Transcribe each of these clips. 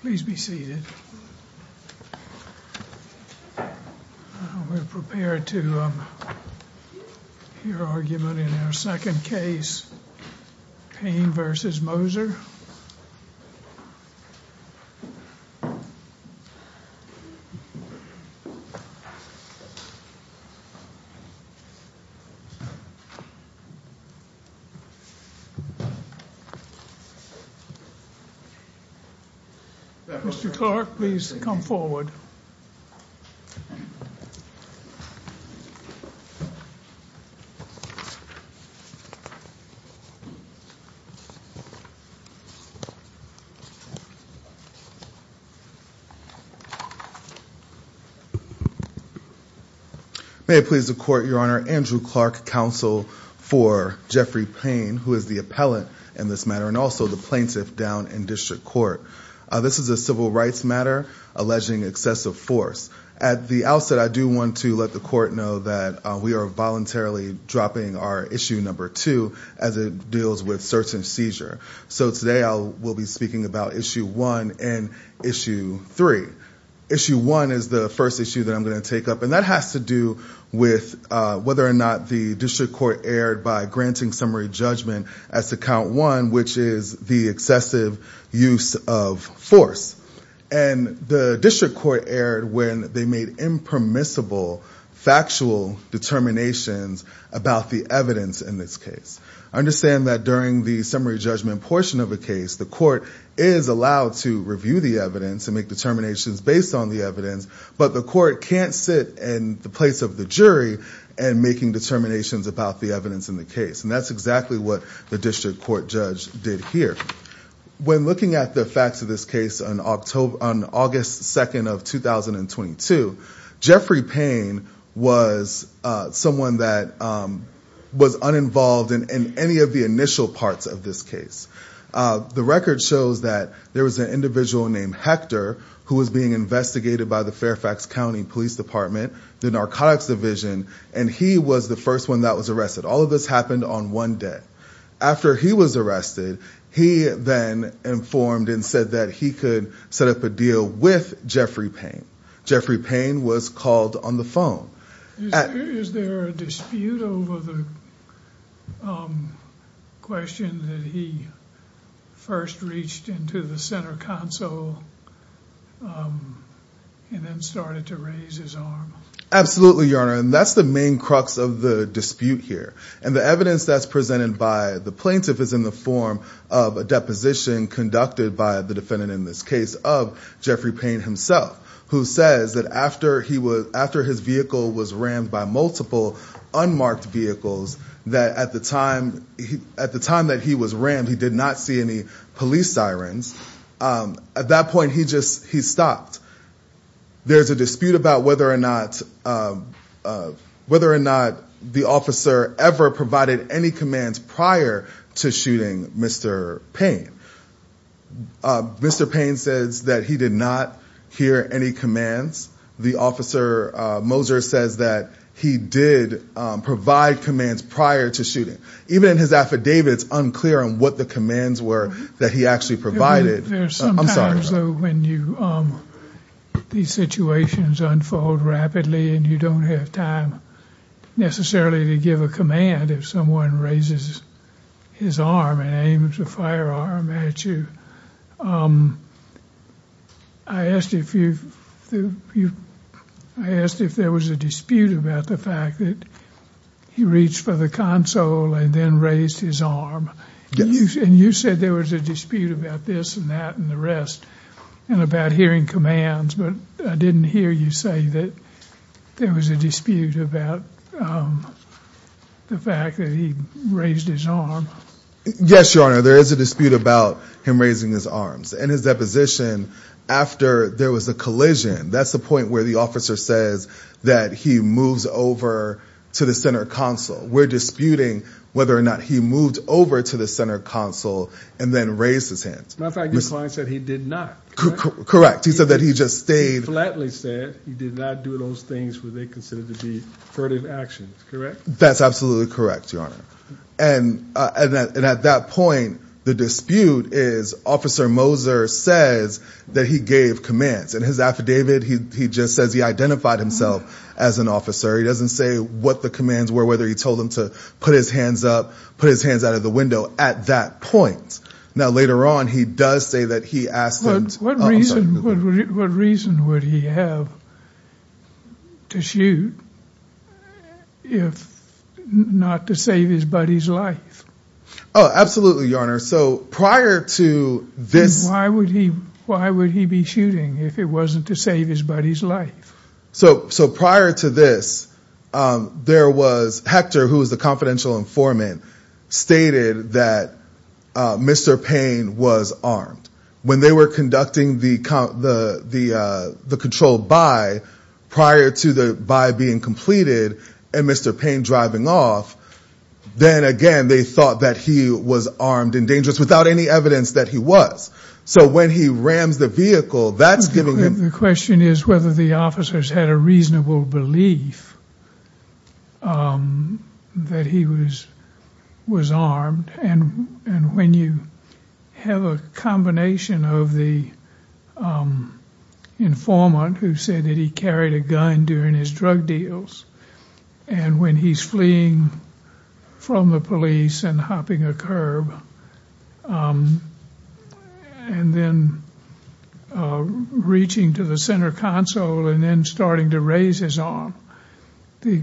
Please be seated. We're prepared to hear argument in our second case, Payne v. Moser. Mr. Clark, please come forward. May it please the court, your honor, Andrew Clark, counsel for Jeffrey Payne, who is the appellant in this matter, and also the plaintiff down in district court. This is a civil rights matter alleging excessive force. At the outset, I do want to let the court know that we are voluntarily dropping our issue number two as it deals with search and seizure. So today I will be speaking about issue one and issue three. Issue one is the first issue that I'm going to take up, and that has to do with whether or not the district court erred by granting summary judgment as to count one, which is the excessive use of force. And the district court erred when they made impermissible factual determinations about the evidence in this case. I understand that during the summary judgment portion of a case, the court is allowed to review the evidence and make determinations based on the evidence, but the court can't sit in the place of the jury and making determinations about the evidence in the case. And that's exactly what the district court judge did here. When looking at the facts of this case on August 2nd of 2022, Jeffrey Payne was someone that was uninvolved in any of the initial parts of this case. The record shows that there was an individual named Hector who was being investigated by the Fairfax County Police Department, the narcotics division, and he was the first one that was arrested. All of this happened on one day. After he was arrested, he then informed and said that he could set up a deal with Jeffrey Payne. Jeffrey Payne was called on the phone. Is there a dispute over the question that he first reached into the center console and then started to raise his arm? Absolutely, Your Honor. And that's the main crux of the dispute here. And the evidence that's presented by the plaintiff is in the form of a deposition conducted by the defendant in this case of Jeffrey Payne himself, who says that after his vehicle was rammed by multiple unmarked vehicles, that at the time that he was rammed, he did not see any police sirens. At that point, he stopped. There's a dispute about whether or not the officer ever provided any commands prior to shooting Mr. Payne. Mr. Payne says that he did not hear any commands. The officer, Moser, says that he did provide commands prior to shooting. Even in his affidavit, it's unclear on what the commands were that he actually provided. There are some times when these situations unfold rapidly and you don't have time necessarily to give a command if someone raises his arm and aims a firearm at you. I asked if there was a dispute about the fact that he reached for the console and then raised his arm. And you said there was a dispute about this and that and the rest and about hearing commands, but I didn't hear you say that there was a dispute about the fact that he raised his arm. Yes, Your Honor, there is a dispute about him raising his arms. In his deposition, after there was a collision, that's the point where the officer says that he moves over to the center console. We're disputing whether or not he moved over to the center console and then raised his hand. My client said he did not. Correct. He said that he just stayed. Flatly said he did not do those things where they considered to be furtive actions, correct? That's absolutely correct, Your Honor. And at that point, the dispute is Officer Moser says that he gave commands in his affidavit. He just says he identified himself as an officer. He doesn't say what the commands were, whether he told him to put his hands up, put his hands out of the window at that point. Now, later on, he does say that he asked what reason what reason would he have to shoot if not to save his buddy's life? Oh, absolutely, Your Honor. So prior to this, why would he why would he be shooting if it wasn't to save his buddy's life? So prior to this, there was Hector, who is the confidential informant, stated that Mr. Payne was armed. When they were conducting the control by prior to the by being completed and Mr. Payne driving off, then again, they thought that he was armed and dangerous without any evidence that he was. So when he rams the vehicle, that's giving him. The question is whether the officers had a reasonable belief that he was was armed. And when you have a combination of the informant who said that he carried a gun during his drug deals, and when he's fleeing from the police and hopping a curb and then reaching to the center console and then starting to raise his arm, the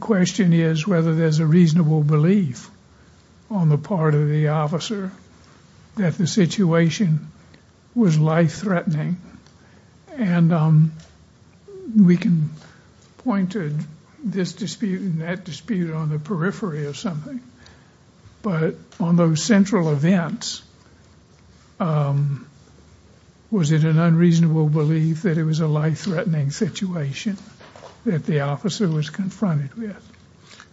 question is whether there's a reasonable belief on the part of the officer that the situation was life threatening. And we can point to this dispute and that dispute on the periphery of something. But on those central events, was it an unreasonable belief that it was a life threatening situation that the officer was confronted with?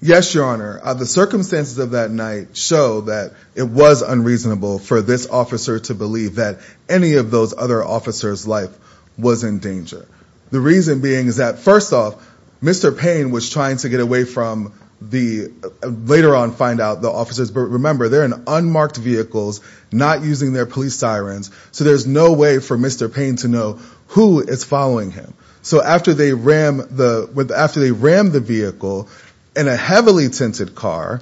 Yes, Your Honor. The circumstances of that night show that it was unreasonable for this officer to believe that any of those other officers life was in danger. The reason being is that, first off, Mr. Payne was trying to get away from the later on, find out the officers. But remember, they're in unmarked vehicles, not using their police sirens. So there's no way for Mr. Payne to know who is following him. So after they rammed the vehicle in a heavily tinted car,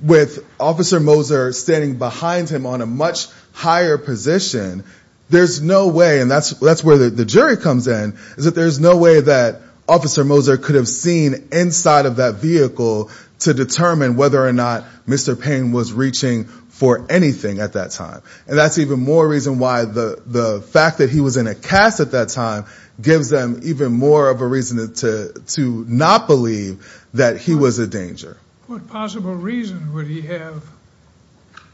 with Officer Moser standing behind him on a much higher position, there's no way, and that's where the jury comes in, is that there's no way that Officer Moser could have seen inside of that vehicle to determine whether or not Mr. Payne was reaching for anything at that time. And that's even more reason why the fact that he was in a cast at that time gives them even more of a reason to not believe that he was a danger. What possible reason would he have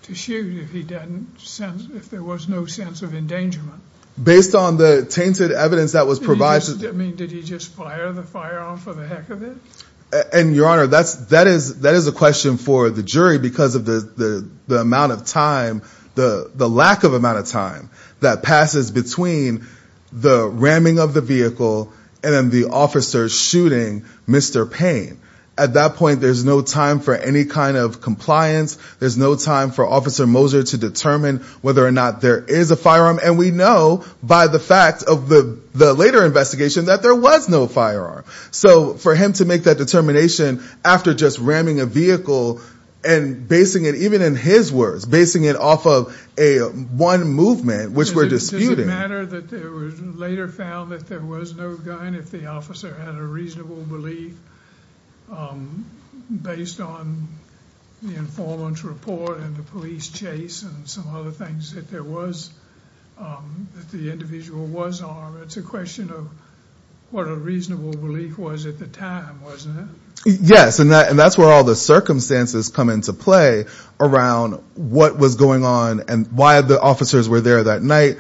to shoot if there was no sense of endangerment? Based on the tainted evidence that was provided. Did he just fire the firearm for the heck of it? And Your Honor, that is a question for the jury because of the amount of time, the lack of amount of time, that passes between the ramming of the vehicle and the officers shooting Mr. Payne. At that point, there's no time for any kind of compliance. There's no time for Officer Moser to determine whether or not there is a firearm. And we know by the fact of the later investigation that there was no firearm. So for him to make that determination after just ramming a vehicle and basing it, even in his words, basing it off of one movement which we're disputing. Does it matter that it was later found that there was no gun if the officer had a reasonable belief based on the informant's report and the police chase and some other things that there was, that the individual was armed? It's a question of what a reasonable belief was at the time, wasn't it? Yes, and that's where all the circumstances come into play around what was going on and why the officers were there that night,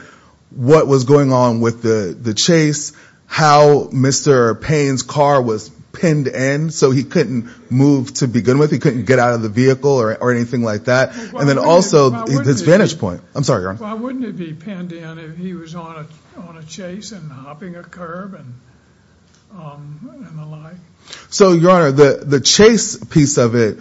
what was going on with the chase, how Mr. Payne's car was pinned in so he couldn't move to begin with, he couldn't get out of the vehicle or anything like that, and then also his vantage point. I'm sorry, Your Honor. Why wouldn't it be pinned in if he was on a chase and hopping a curb and the like? So, Your Honor, the chase piece of it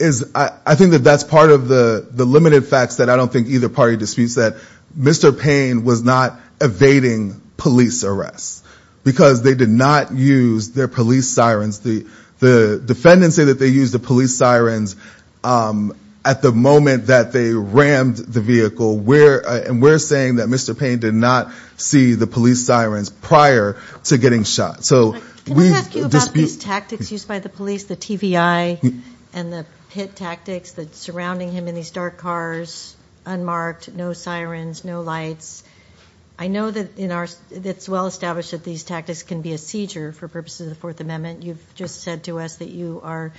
is I think that that's part of the limited facts that I don't think either party disputes that Mr. Payne was not evading police arrests because they did not use their police sirens. The defendants say that they used the police sirens at the moment that they rammed the vehicle, and we're saying that Mr. Payne did not see the police sirens prior to getting shot. Can I ask you about these tactics used by the police, the TVI and the pit tactics that's surrounding him in these dark cars, unmarked, no sirens, no lights? I know that it's well established that these tactics can be a seizure for purposes of the Fourth Amendment. You've just said to us that you are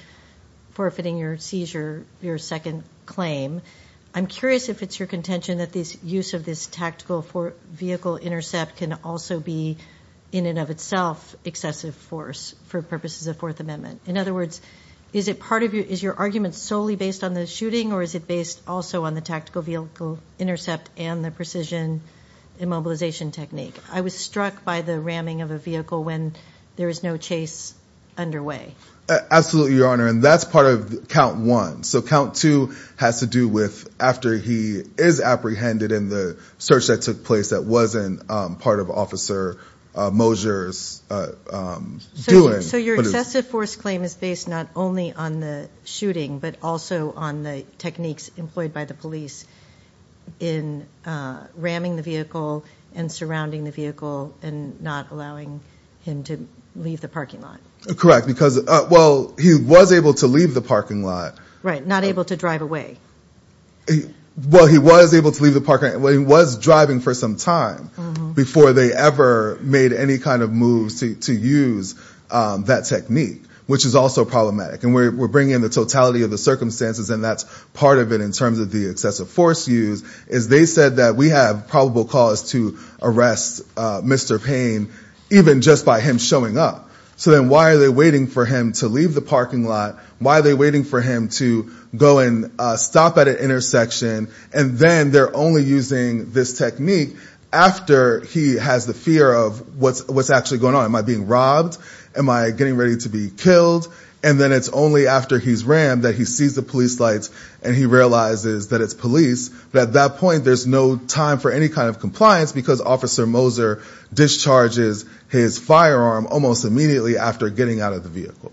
forfeiting your seizure, your second claim. I'm curious if it's your contention that the use of this tactical vehicle intercept can also be, in and of itself, excessive force for purposes of the Fourth Amendment. In other words, is your argument solely based on the shooting, or is it based also on the tactical vehicle intercept and the precision immobilization technique? I was struck by the ramming of a vehicle when there was no chase underway. Absolutely, Your Honor, and that's part of count one. So count two has to do with after he is apprehended in the search that took place that wasn't part of Officer Moser's doing. So your excessive force claim is based not only on the shooting, but also on the techniques employed by the police in ramming the vehicle and surrounding the vehicle and not allowing him to leave the parking lot. Correct, because, well, he was able to leave the parking lot. Right, not able to drive away. Well, he was able to leave the parking lot. He was driving for some time before they ever made any kind of moves to use that technique, which is also problematic. And we're bringing in the totality of the circumstances, and that's part of it in terms of the excessive force used, is they said that we have probable cause to arrest Mr. Payne even just by him showing up. So then why are they waiting for him to leave the parking lot? Why are they waiting for him to go and stop at an intersection? And then they're only using this technique after he has the fear of what's actually going on. Am I being robbed? Am I getting ready to be killed? And then it's only after he's rammed that he sees the police lights and he realizes that it's police. But at that point there's no time for any kind of compliance because Officer Moser discharges his firearm almost immediately after getting out of the vehicle.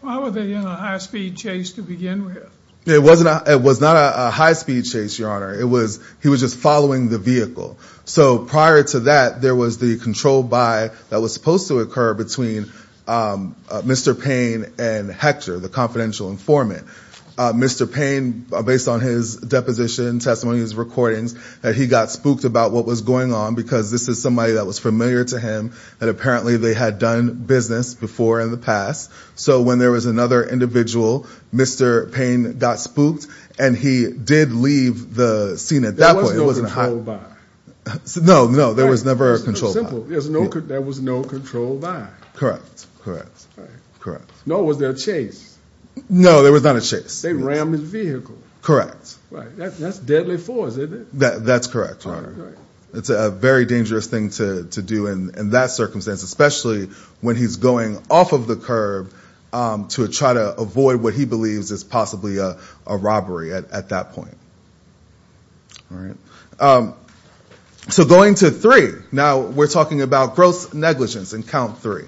Why were they in a high-speed chase to begin with? It was not a high-speed chase, Your Honor. He was just following the vehicle. So prior to that, there was the controlled by that was supposed to occur between Mr. Payne and Hector, the confidential informant. Mr. Payne, based on his deposition, testimony, his recordings, he got spooked about what was going on because this is somebody that was familiar to him and apparently they had done business before in the past. So when there was another individual, Mr. Payne got spooked and he did leave the scene at that point. There was no controlled by. No, no, there was never a controlled by. Simple. There was no controlled by. Correct, correct, correct. Nor was there a chase. No, there was not a chase. They rammed his vehicle. Correct. That's deadly force, isn't it? That's correct, Your Honor. It's a very dangerous thing to do in that circumstance, especially when he's going off of the curb to try to avoid what he believes is possibly a robbery at that point. All right. So going to three. Now we're talking about gross negligence in count three.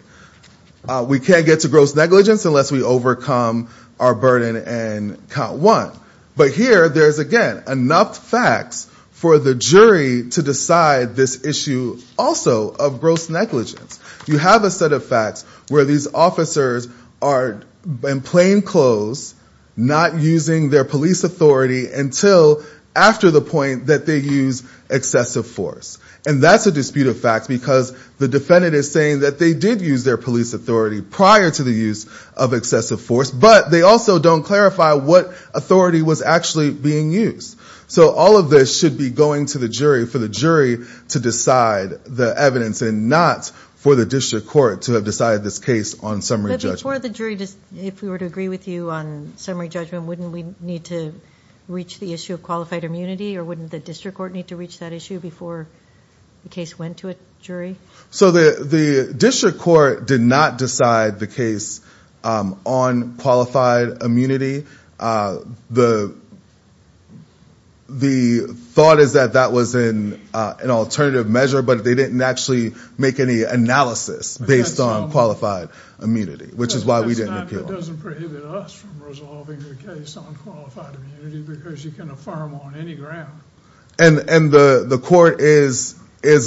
We can't get to gross negligence unless we overcome our burden in count one. But here there's, again, enough facts for the jury to decide this issue also of gross negligence. You have a set of facts where these officers are in plain clothes not using their police authority until after the point that they use excessive force. And that's a dispute of facts because the defendant is saying that they did use their police authority prior to the use of excessive force. But they also don't clarify what authority was actually being used. So all of this should be going to the jury for the jury to decide the evidence and not for the district court to have decided this case on summary judgment. But before the jury, if we were to agree with you on summary judgment, wouldn't we need to reach the issue of qualified immunity? Or wouldn't the district court need to reach that issue before the case went to a jury? So the district court did not decide the case on qualified immunity. The thought is that that was an alternative measure. But they didn't actually make any analysis based on qualified immunity, which is why we didn't appeal. That doesn't prohibit us from resolving the case on qualified immunity because you can affirm on any ground. And the court is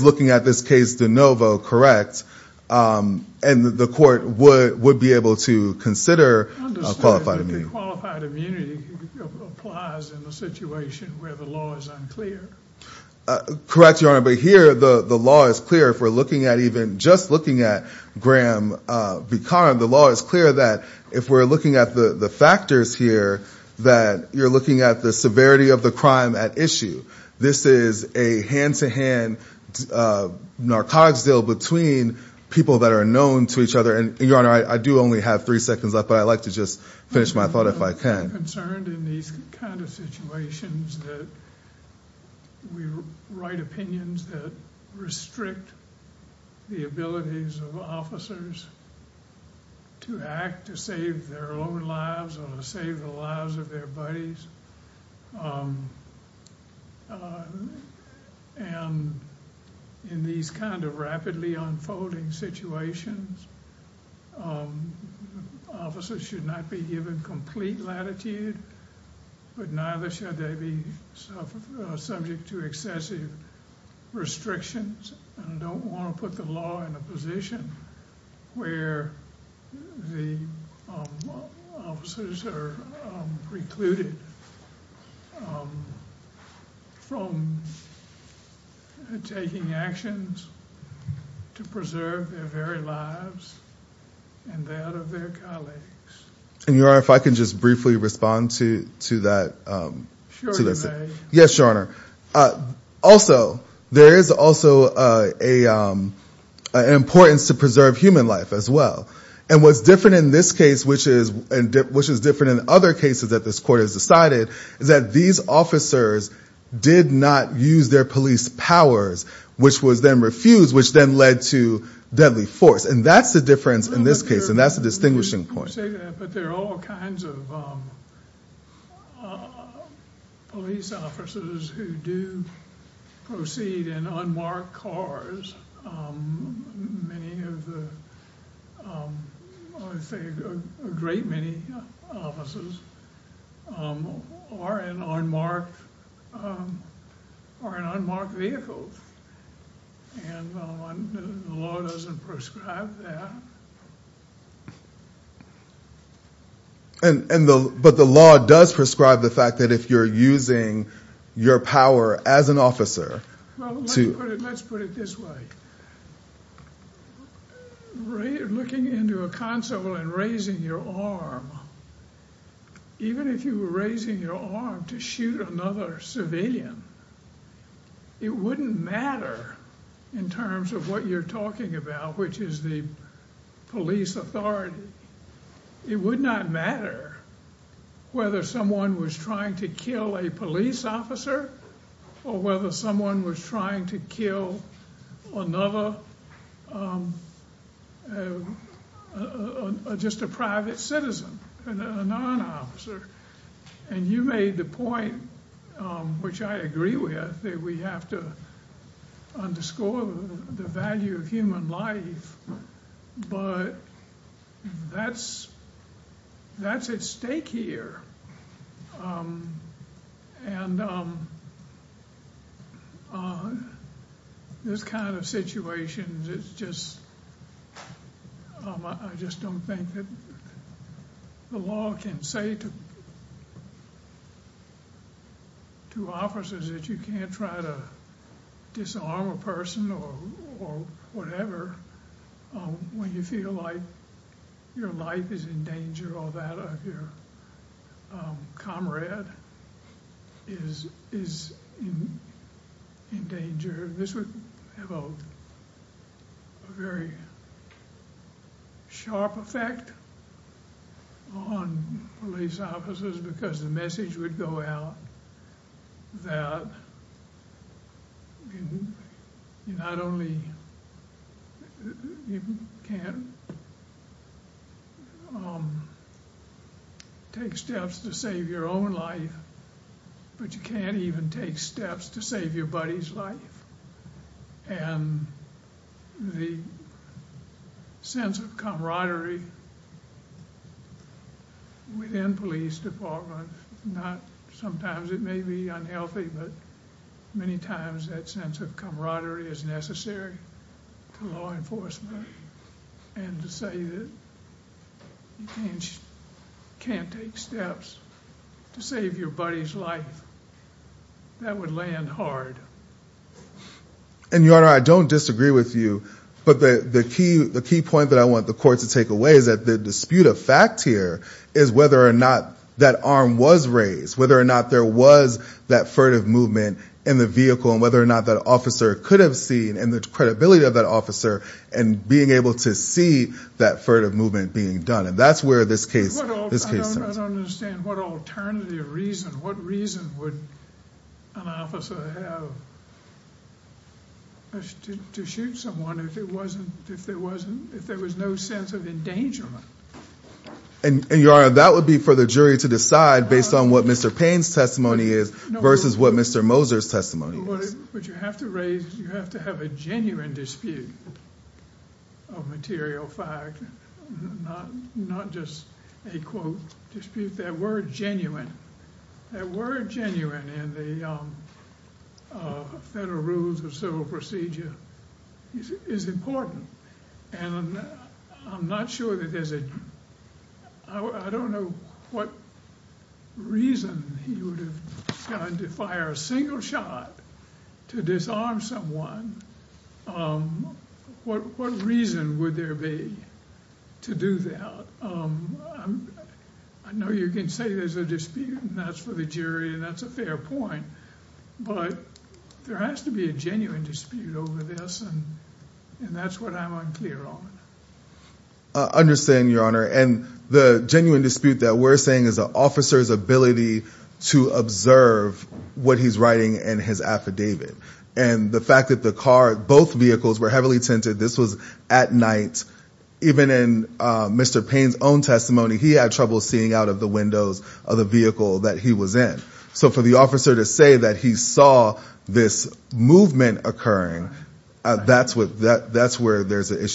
looking at this case de novo, correct? And the court would be able to consider qualified immunity. I understand that the qualified immunity applies in a situation where the law is unclear. Correct, Your Honor. But here, the law is clear. If we're looking at even just looking at Graham v. Kahn, the law is clear that if we're looking at the factors here, that you're looking at the severity of the crime at issue. This is a hand-to-hand narcotics deal between people that are known to each other. And, Your Honor, I do only have three seconds left, but I'd like to just finish my thought if I can. I'm concerned in these kind of situations that we write opinions that restrict the abilities of officers to act to save their own lives or to save the lives of their buddies. And in these kind of rapidly unfolding situations, officers should not be given complete latitude, but neither should they be subject to excessive restrictions. I don't want to put the law in a position where the officers are precluded from taking actions to preserve their very lives and that of their colleagues. And, Your Honor, if I could just briefly respond to that. Sure, you may. Yes, Your Honor. Also, there is also an importance to preserve human life as well. And what's different in this case, which is different in other cases that this court has decided, is that these officers did not use their police powers, which was then refused, which then led to deadly force. And that's the difference in this case, and that's the distinguishing point. I'm sorry to say that, but there are all kinds of police officers who do proceed in unmarked cars. Many of the, I would say a great many officers are in unmarked vehicles, and the law doesn't prescribe that. But the law does prescribe the fact that if you're using your power as an officer to... Well, let's put it this way. Looking into a console and raising your arm, even if you were raising your arm to shoot another civilian, it wouldn't matter in terms of what you're talking about, which is the police authority. It would not matter whether someone was trying to kill a police officer or whether someone was trying to kill another, just a private citizen, a non-officer. And you made the point, which I agree with, that we have to underscore the value of human life, but that's at stake here. And this kind of situation is just... I just don't think that the law can say to officers that you can't try to disarm a person or whatever when you feel like your life is in danger or that your comrade is in danger. This would have a very sharp effect on police officers because the message would go out that you not only can't take steps to save your own life, but you can't even take steps to save your buddy's life. And the sense of camaraderie within police departments, sometimes it may be unhealthy, but many times that sense of camaraderie is necessary to law enforcement. And to say that you can't take steps to save your buddy's life, that would land hard. And, Your Honor, I don't disagree with you, but the key point that I want the court to take away is that the dispute of fact here is whether or not that arm was raised, whether or not there was that furtive movement in the vehicle, and whether or not that officer could have seen, and the credibility of that officer in being able to see that furtive movement being done. And that's where this case stands. I don't understand what alternative reason, what reason would an officer have to shoot someone if there was no sense of endangerment? And, Your Honor, that would be for the jury to decide based on what Mr. Payne's testimony is versus what Mr. Moser's testimony is. But you have to raise, you have to have a genuine dispute of material fact, not just a quote dispute. That word genuine, that word genuine in the federal rules of civil procedure is important. And I'm not sure that there's a, I don't know what reason he would have gone to fire a single shot to disarm someone. What reason would there be to do that? I know you can say there's a dispute and that's for the jury and that's a fair point. But there has to be a genuine dispute over this and that's what I'm unclear on. I understand, Your Honor. And the genuine dispute that we're saying is the officer's ability to observe what he's writing in his affidavit. And the fact that the car, both vehicles were heavily tinted, this was at night. Even in Mr. Payne's own testimony, he had trouble seeing out of the windows of the vehicle that he was in. So for the officer to say that he saw this movement occurring, that's where there's a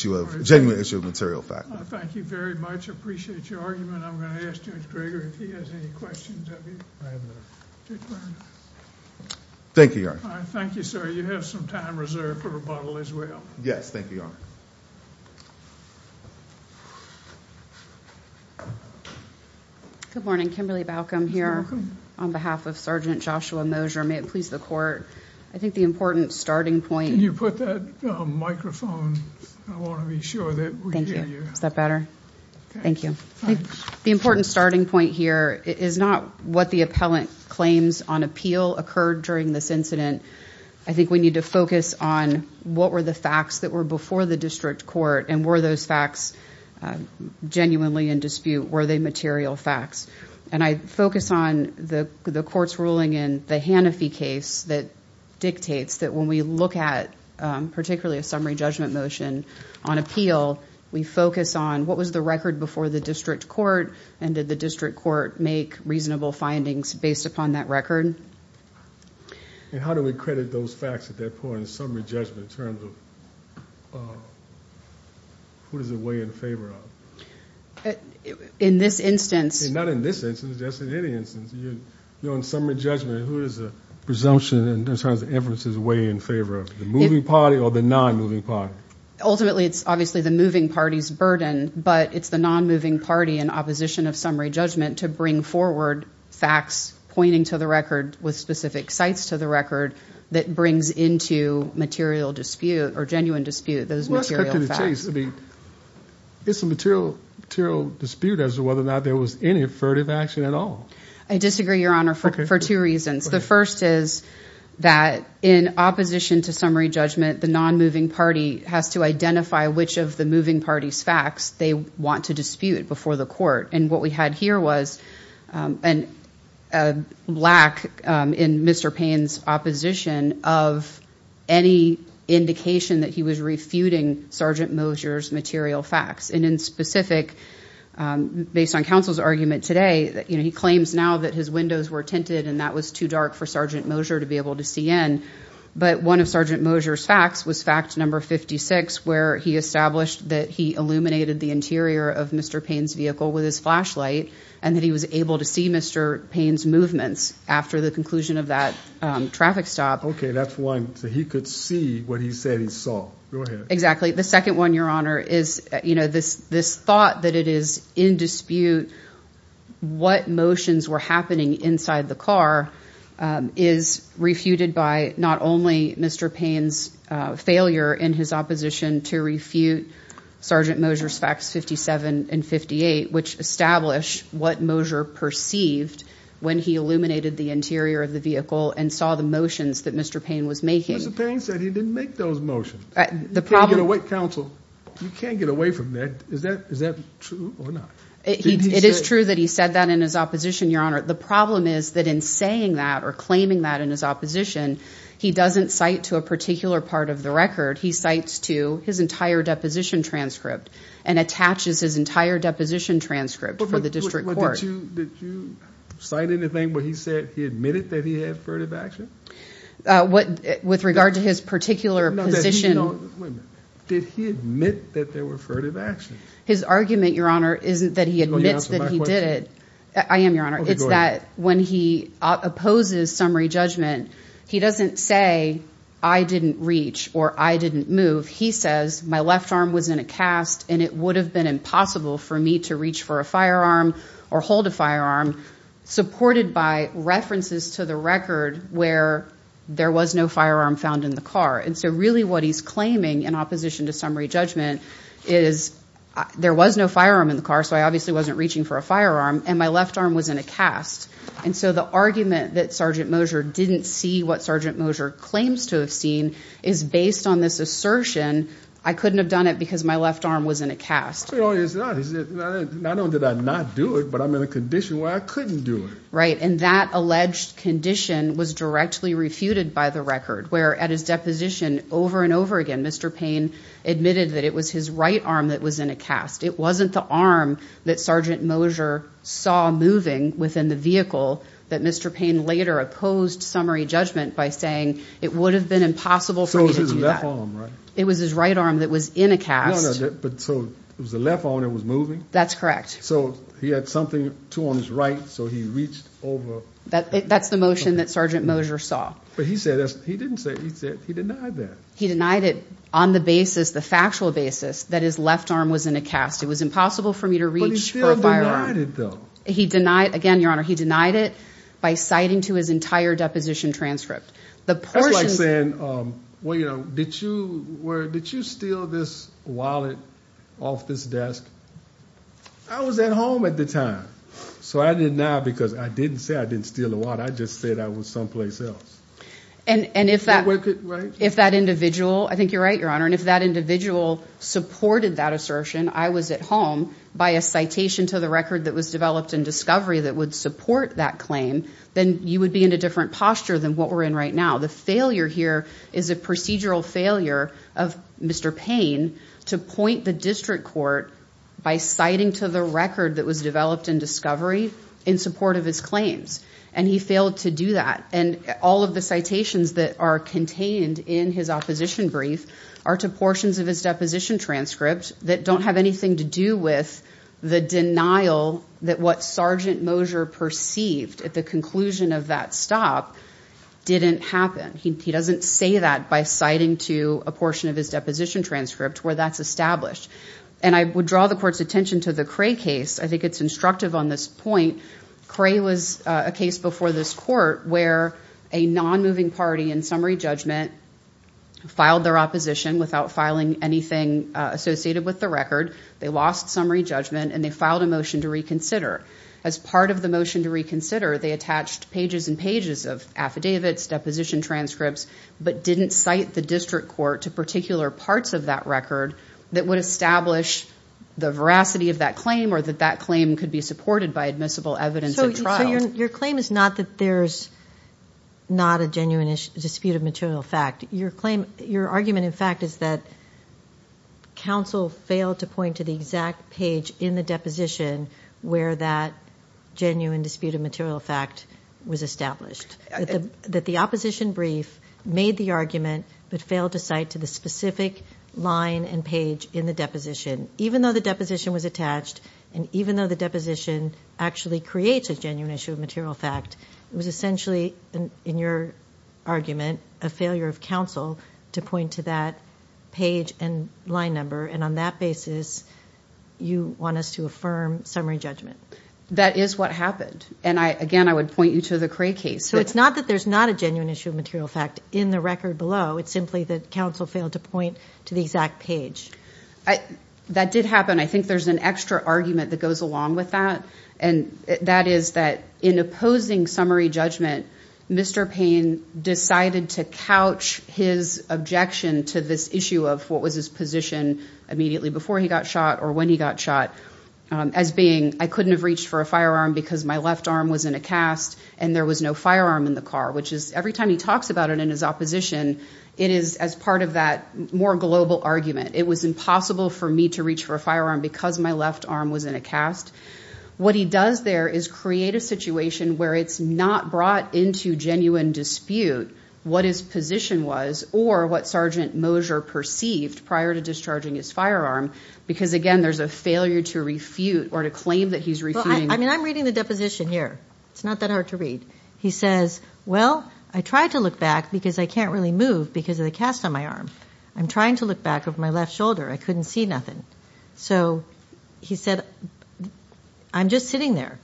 genuine issue of material fact. Thank you very much. I appreciate your argument. I'm going to ask Judge Greger if he has any questions of you. Thank you, Your Honor. Thank you, sir. You have some time reserved for rebuttal as well. Yes, thank you, Your Honor. Thank you. Good morning. Kimberly Baucom here on behalf of Sergeant Joshua Mosher. May it please the court. I think the important starting point Can you put that microphone? I want to be sure that we hear you. Thank you. Is that better? Thank you. The important starting point here is not what the appellant claims on appeal occurred during this incident. I think we need to focus on what were the facts that were before the district court, and were those facts genuinely in dispute? Were they material facts? And I focus on the court's ruling in the Hanafi case that dictates that when we look at particularly a summary judgment motion on appeal, we focus on what was the record before the district court, and did the district court make reasonable findings based upon that record? And how do we credit those facts at that point in summary judgment in terms of who does it weigh in favor of? In this instance? Not in this instance. Just in any instance. In summary judgment, who does the presumption in terms of evidence weigh in favor of? The moving party or the non-moving party? Ultimately, it's obviously the moving party's burden, but it's the non-moving party in opposition of summary judgment to bring forward facts pointing to the record with specific sites to the record that brings into material dispute or genuine dispute those material facts. It's a material dispute as to whether or not there was any affirmative action at all. I disagree, Your Honor, for two reasons. The first is that in opposition to summary judgment, the non-moving party has to identify which of the moving party's facts they want to dispute before the court. And what we had here was a lack in Mr. Payne's opposition of any indication that he was refuting Sergeant Moser's material facts. And in specific, based on counsel's argument today, he claims now that his windows were tinted and that was too dark for Sergeant Moser to be able to see in. But one of Sergeant Moser's facts was fact number 56 where he established that he illuminated the interior of Mr. Payne's vehicle with his flashlight and that he was able to see Mr. Payne's movements after the conclusion of that traffic stop. Okay, that's one. So he could see what he said he saw. Go ahead. Exactly. The second one, Your Honor, is this thought that it is in dispute what motions were happening inside the car is refuted by not only Mr. Payne's failure in his opposition to refute Sergeant Moser's facts 57 and 58, which establish what Moser perceived when he illuminated the interior of the vehicle and saw the motions that Mr. Payne was making. Mr. Payne said he didn't make those motions. Counsel, you can't get away from that. Is that true or not? It is true that he said that in his opposition, Your Honor. The problem is that in saying that or claiming that in his opposition, he doesn't cite to a particular part of the record. He cites to his entire deposition transcript and attaches his entire deposition transcript for the district court. Did you cite anything where he said he admitted that he had furtive action? With regard to his particular position. Wait a minute. Did he admit that there were furtive actions? His argument, Your Honor, isn't that he admits that he did it. I am, Your Honor. It's that when he opposes summary judgment, he doesn't say I didn't reach or I didn't move. He says my left arm was in a cast and it would have been impossible for me to reach for a firearm or hold a firearm supported by references to the record where there was no firearm found in the car. And so really what he's claiming in opposition to summary judgment is there was no firearm in the car. So I obviously wasn't reaching for a firearm. And my left arm was in a cast. And so the argument that Sergeant Mosher didn't see what Sergeant Mosher claims to have seen is based on this assertion. I couldn't have done it because my left arm was in a cast. No, it's not. Not only did I not do it, but I'm in a condition where I couldn't do it. Right, and that alleged condition was directly refuted by the record, where at his deposition over and over again Mr. Payne admitted that it was his right arm that was in a cast. It wasn't the arm that Sergeant Mosher saw moving within the vehicle that Mr. Payne later opposed summary judgment by saying it would have been impossible for me to do that. So it was his left arm, right? It was his right arm that was in a cast. No, no, but so it was the left arm that was moving? That's correct. So he had something, two arms, right? So he reached over. That's the motion that Sergeant Mosher saw. But he said, he didn't say, he said he denied that. He denied it on the basis, the factual basis, that his left arm was in a cast. It was impossible for me to reach for a firearm. But he still denied it though. He denied, again, Your Honor, he denied it by citing to his entire deposition transcript. That's like saying, well, you know, did you steal this wallet off this desk? I was at home at the time. So I didn't deny because I didn't say I didn't steal the wallet. I just said I was someplace else. And if that individual, I think you're right, Your Honor, and if that individual supported that assertion, I was at home, by a citation to the record that was developed in discovery that would support that claim, then you would be in a different posture than what we're in right now. The failure here is a procedural failure of Mr. Payne to point the district court by citing to the record that was developed in discovery in support of his claims. And he failed to do that. And all of the citations that are contained in his opposition brief are to portions of his deposition transcript that don't have anything to do with the denial that what Sergeant Moser perceived at the conclusion of that stop didn't happen. He doesn't say that by citing to a portion of his deposition transcript where that's established. And I would draw the court's attention to the Cray case. I think it's instructive on this point. Cray was a case before this court where a non-moving party in summary judgment filed their opposition without filing anything associated with the record. They lost summary judgment, and they filed a motion to reconsider. As part of the motion to reconsider, they attached pages and pages of affidavits, deposition transcripts, but didn't cite the district court to particular parts of that record that would establish the veracity of that claim or that that claim could be supported by admissible evidence at trial. So your claim is not that there's not a genuine dispute of material fact. Your argument, in fact, is that counsel failed to point to the exact page in the deposition where that genuine dispute of material fact was established. That the opposition brief made the argument but failed to cite to the specific line and page in the deposition. Even though the deposition was attached and even though the deposition actually creates a genuine issue of material fact, it was essentially, in your argument, a failure of counsel to point to that page and line number. And on that basis, you want us to affirm summary judgment. That is what happened. And, again, I would point you to the Cray case. So it's not that there's not a genuine issue of material fact in the record below. It's simply that counsel failed to point to the exact page. That did happen. I think there's an extra argument that goes along with that, and that is that in opposing summary judgment, Mr. Payne decided to couch his objection to this issue of what was his position immediately before he got shot or when he got shot as being, I couldn't have reached for a firearm because my left arm was in a cast and there was no firearm in the car, which is every time he talks about it in his opposition, it is as part of that more global argument. It was impossible for me to reach for a firearm because my left arm was in a cast. What he does there is create a situation where it's not brought into genuine dispute what his position was or what Sergeant Moser perceived prior to discharging his firearm because, again, there's a failure to refute or to claim that he's refuting. Well, I mean, I'm reading the deposition here. It's not that hard to read. He says, well, I tried to look back because I can't really move because of the cast on my arm. I'm trying to look back over my left shoulder. I couldn't see nothing. So he said, I'm just sitting there.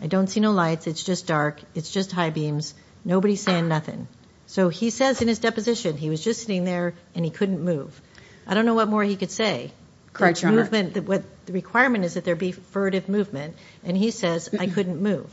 I don't see no lights. It's just dark. It's just high beams. Nobody's saying nothing. So he says in his deposition he was just sitting there and he couldn't move. I don't know what more he could say. The requirement is that there be furtive movement. And he says, I couldn't move.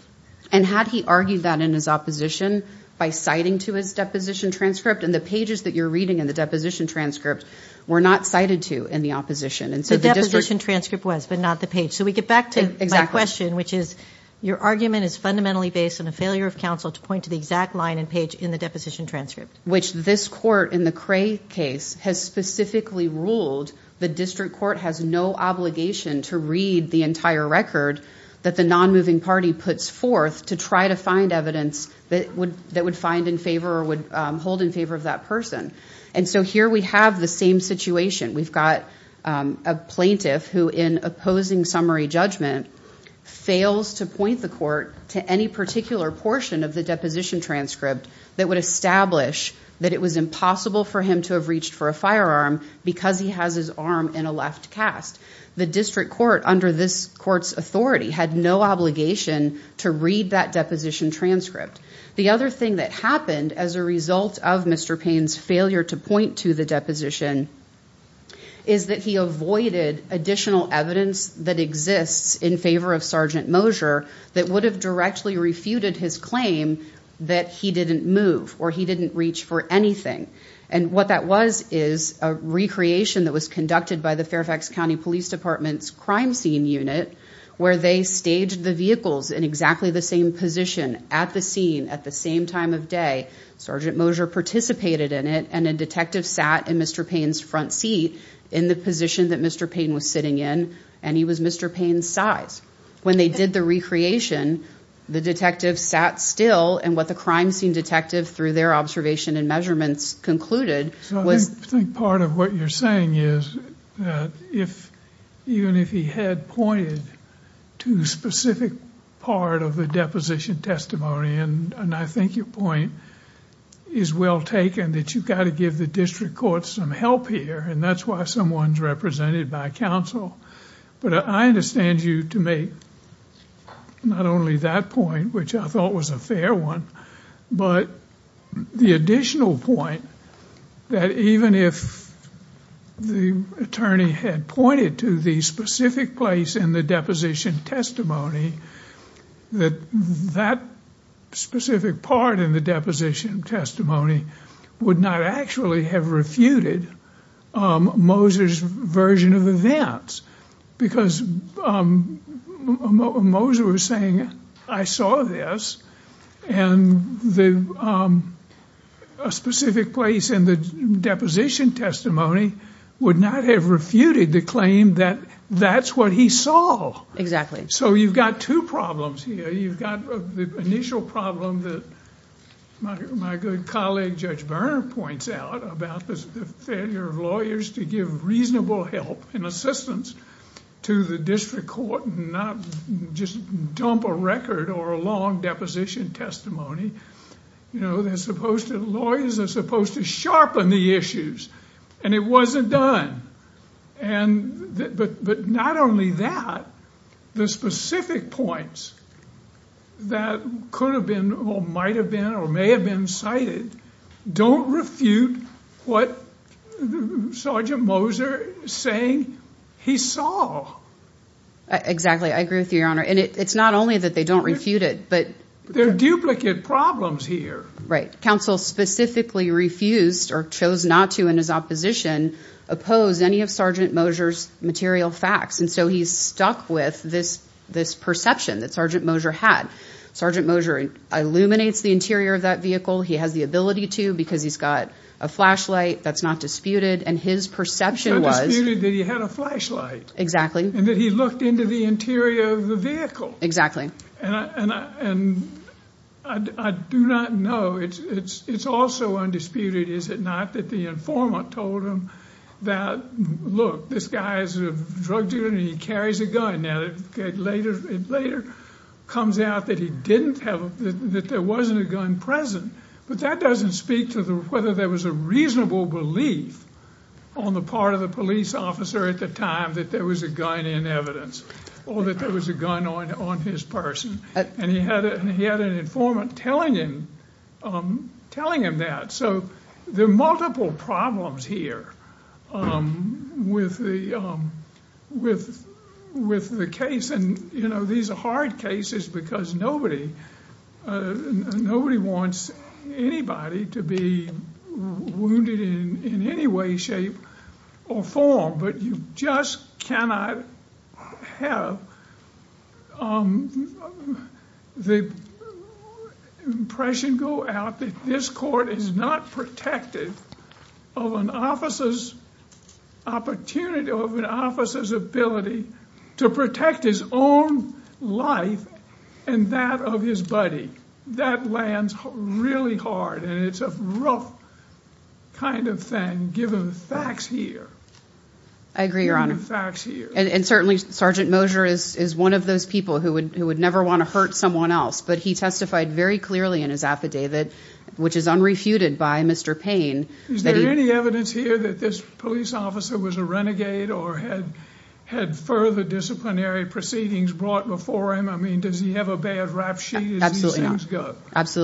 And had he argued that in his opposition by citing to his deposition transcript, and the pages that you're reading in the deposition transcript were not cited to in the opposition. The deposition transcript was, but not the page. So we get back to my question, which is your argument is fundamentally based on a failure of counsel to point to the exact line and page in the deposition transcript. Which this court in the Cray case has specifically ruled the district court has no obligation to read the entire record that the non-moving party puts forth to try to find evidence that would find in favor or would hold in favor of that person. And so here we have the same situation. We've got a plaintiff who in opposing summary judgment fails to point the court to any particular portion of the deposition transcript that would establish that it was impossible for him to have reached for a firearm because he has his arm in a left cast. The district court under this court's authority had no obligation to read that deposition transcript. The other thing that happened as a result of Mr. Payne's failure to point to the deposition is that he avoided additional evidence that exists in favor of Sergeant Mosher that would have directly refuted his claim that he didn't move or he didn't reach for anything. And what that was is a recreation that was conducted by the Fairfax County Police Department's crime scene unit where they staged the vehicles in exactly the same position at the scene at the same time of day. Sergeant Mosher participated in it and a detective sat in Mr. Payne's front seat in the position that Mr. Payne was sitting in and he was Mr. Payne's size. When they did the recreation, the detective sat still and what the crime scene detective through their observation and measurements concluded was... I think part of what you're saying is that even if he had pointed to a specific part of the deposition testimony and I think your point is well taken that you've got to give the district court some help here and that's why someone's represented by counsel. But I understand you to make not only that point, which I thought was a fair one, but the additional point that even if the attorney had pointed to the specific place in the deposition testimony that that specific part in the deposition testimony would not actually have refuted Mosher's version of events. Because Mosher was saying I saw this and a specific place in the deposition testimony would not have refuted the claim that that's what he saw. Exactly. So you've got two problems here. You've got the initial problem that my good colleague Judge Berner points out about the failure of lawyers to give reasonable help and assistance to the district court and not just dump a record or a long deposition testimony. You know, lawyers are supposed to sharpen the issues and it wasn't done. But not only that, the specific points that could have been or might have been or may have been cited don't refute what Sergeant Moser is saying he saw. Exactly. I agree with you, Your Honor. And it's not only that they don't refute it, but... There are duplicate problems here. Right. Counsel specifically refused or chose not to, in his opposition, oppose any of Sergeant Moser's material facts. And so he's stuck with this perception that Sergeant Moser had. Sergeant Moser illuminates the interior of that vehicle. He has the ability to because he's got a flashlight that's not disputed. And his perception was... Not disputed that he had a flashlight. Exactly. And that he looked into the interior of the vehicle. Exactly. And I do not know. It's also undisputed, is it not, that the informant told him that, look, this guy is a drug dealer and he carries a gun. Now, it later comes out that he didn't have, that there wasn't a gun present. But that doesn't speak to whether there was a reasonable belief on the part of the police officer at the time that there was a gun in evidence or that there was a gun on his person. And he had an informant telling him that. So there are multiple problems here with the case. And, you know, these are hard cases because nobody wants anybody to be wounded in any way, shape or form. But you just cannot have the impression go out that this court is not protected of an officer's opportunity, of an officer's ability to protect his own life and that of his buddy. That lands really hard and it's a rough kind of thing, given the facts here. I agree, Your Honor. Given the facts here. And certainly Sergeant Moser is one of those people who would never want to hurt someone else. But he testified very clearly in his affidavit, which is unrefuted by Mr. Payne. Is there any evidence here that this police officer was a renegade or had further disciplinary proceedings brought before him? I mean, does he have a bad rap sheet? Absolutely not.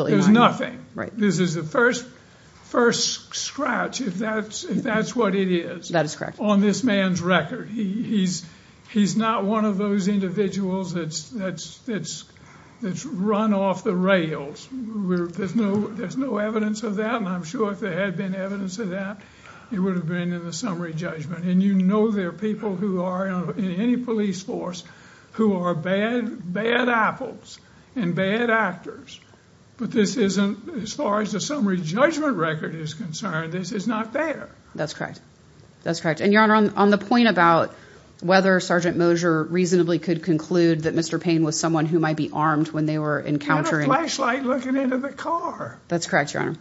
There's nothing. Right. This is the first scratch, if that's what it is. That is correct. On this man's record. He's not one of those individuals that's run off the rails. There's no evidence of that. And I'm sure if there had been evidence of that, it would have been in the summary judgment. And you know there are people who are in any police force who are bad, bad apples and bad actors. But this isn't as far as the summary judgment record is concerned. This is not fair. That's correct. That's correct. And Your Honor, on the point about whether Sergeant Moser reasonably could conclude that Mr. Payne was someone who might be armed when they were encountering. He had a flashlight looking into the car. That's correct, Your Honor.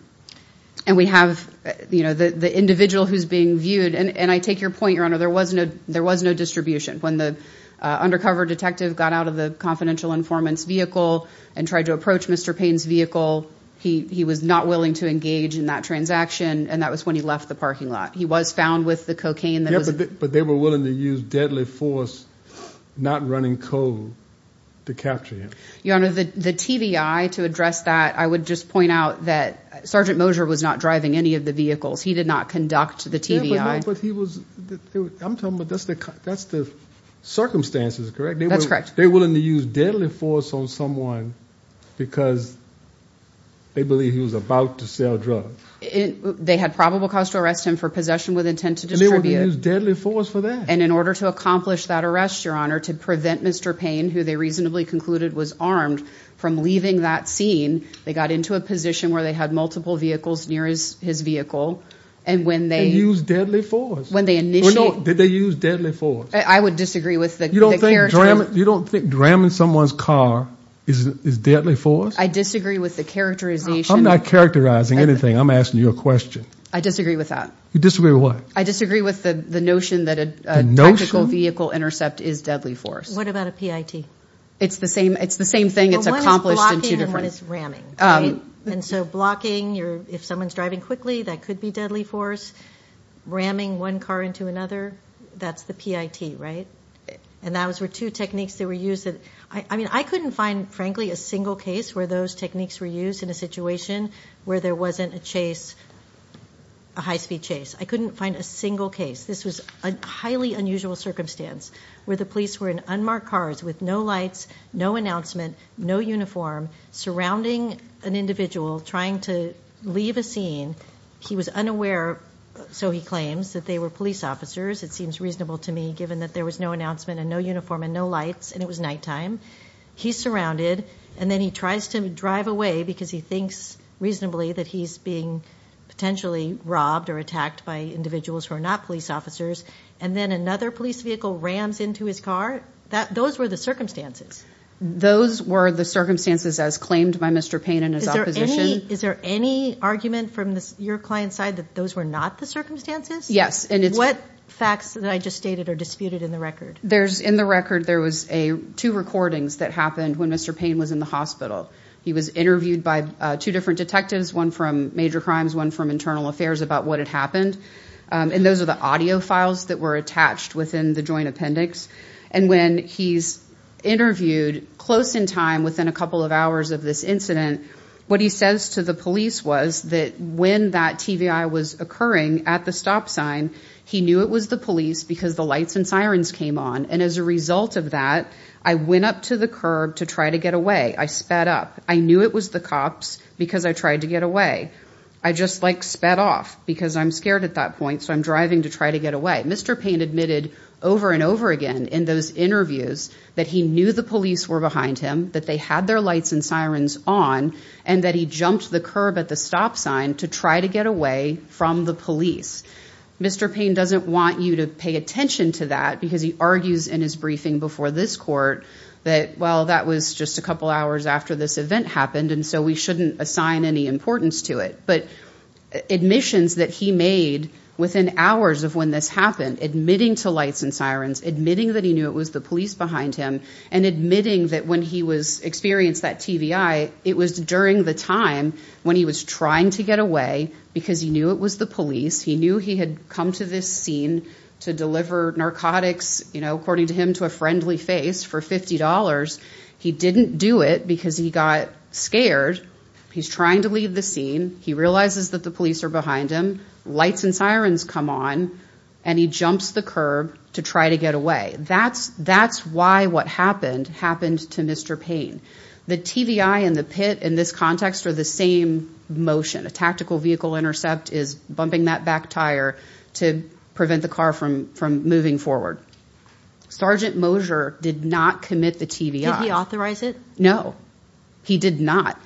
And we have, you know, the individual who's being viewed. And I take your point, Your Honor. There was no there was no distribution when the undercover detective got out of the confidential informants vehicle and tried to approach Mr. Payne's vehicle. He was not willing to engage in that transaction. And that was when he left the parking lot. He was found with the cocaine. But they were willing to use deadly force, not running cold to capture him. Your Honor, the TVI to address that, I would just point out that Sergeant Moser was not driving any of the vehicles. He did not conduct the TVI. But he was. I'm talking about that's the that's the circumstances, correct? That's correct. They were willing to use deadly force on someone because they believe he was about to sell drugs. They had probable cause to arrest him for possession with intent to distribute deadly force for that. And in order to accomplish that arrest, Your Honor, to prevent Mr. Payne, who they reasonably concluded was armed from leaving that scene, they got into a position where they had multiple vehicles near his vehicle. And when they use deadly force, when they know that they use deadly force, I would disagree with that. You don't think you don't think dramming someone's car is deadly force. I disagree with the characterization. I'm not characterizing anything. I'm asking you a question. I disagree with that. You disagree with what? I disagree with the notion that a tactical vehicle intercept is deadly force. What about a PIT? It's the same. It's the same thing. It's accomplished in two different ways. One is blocking and one is ramming. And so blocking, if someone's driving quickly, that could be deadly force. Ramming one car into another, that's the PIT, right? And those were two techniques that were used. I mean, I couldn't find, frankly, a single case where those techniques were used in a situation where there wasn't a chase, a high-speed chase. I couldn't find a single case. This was a highly unusual circumstance where the police were in unmarked cars with no lights, no announcement, no uniform, surrounding an individual trying to leave a scene. He was unaware, so he claims, that they were police officers. It seems reasonable to me, given that there was no announcement and no uniform and no lights, and it was nighttime. He's surrounded, and then he tries to drive away because he thinks reasonably that he's being potentially robbed or attacked by individuals who are not police officers. And then another police vehicle rams into his car. Those were the circumstances. Those were the circumstances as claimed by Mr. Payne and his opposition. Is there any argument from your client's side that those were not the circumstances? Yes. What facts that I just stated are disputed in the record? In the record, there was two recordings that happened when Mr. Payne was in the hospital. He was interviewed by two different detectives, one from major crimes, one from internal affairs, about what had happened. And those are the audio files that were attached within the joint appendix. And when he's interviewed close in time, within a couple of hours of this incident, what he says to the police was that when that TVI was occurring at the stop sign, he knew it was the police because the lights and sirens came on. And as a result of that, I went up to the curb to try to get away. I sped up. I knew it was the cops because I tried to get away. I just, like, sped off because I'm scared at that point, so I'm driving to try to get away. Mr. Payne admitted over and over again in those interviews that he knew the police were behind him, that they had their lights and sirens on, and that he jumped the curb at the stop sign to try to get away from the police. Mr. Payne doesn't want you to pay attention to that because he argues in his briefing before this court that, well, that was just a couple hours after this event happened, and so we shouldn't assign any importance to it. But admissions that he made within hours of when this happened, admitting to lights and sirens, admitting that he knew it was the police behind him, and admitting that when he experienced that TVI, it was during the time when he was trying to get away because he knew it was the police. He knew he had come to this scene to deliver narcotics, you know, according to him, to a friendly face for $50. He didn't do it because he got scared. He's trying to leave the scene. He realizes that the police are behind him. Lights and sirens come on, and he jumps the curb to try to get away. That's why what happened happened to Mr. Payne. The TVI and the pit in this context are the same motion. A tactical vehicle intercept is bumping that back tire to prevent the car from moving forward. Sergeant Moser did not commit the TVI. Did he authorize it? No, he did not.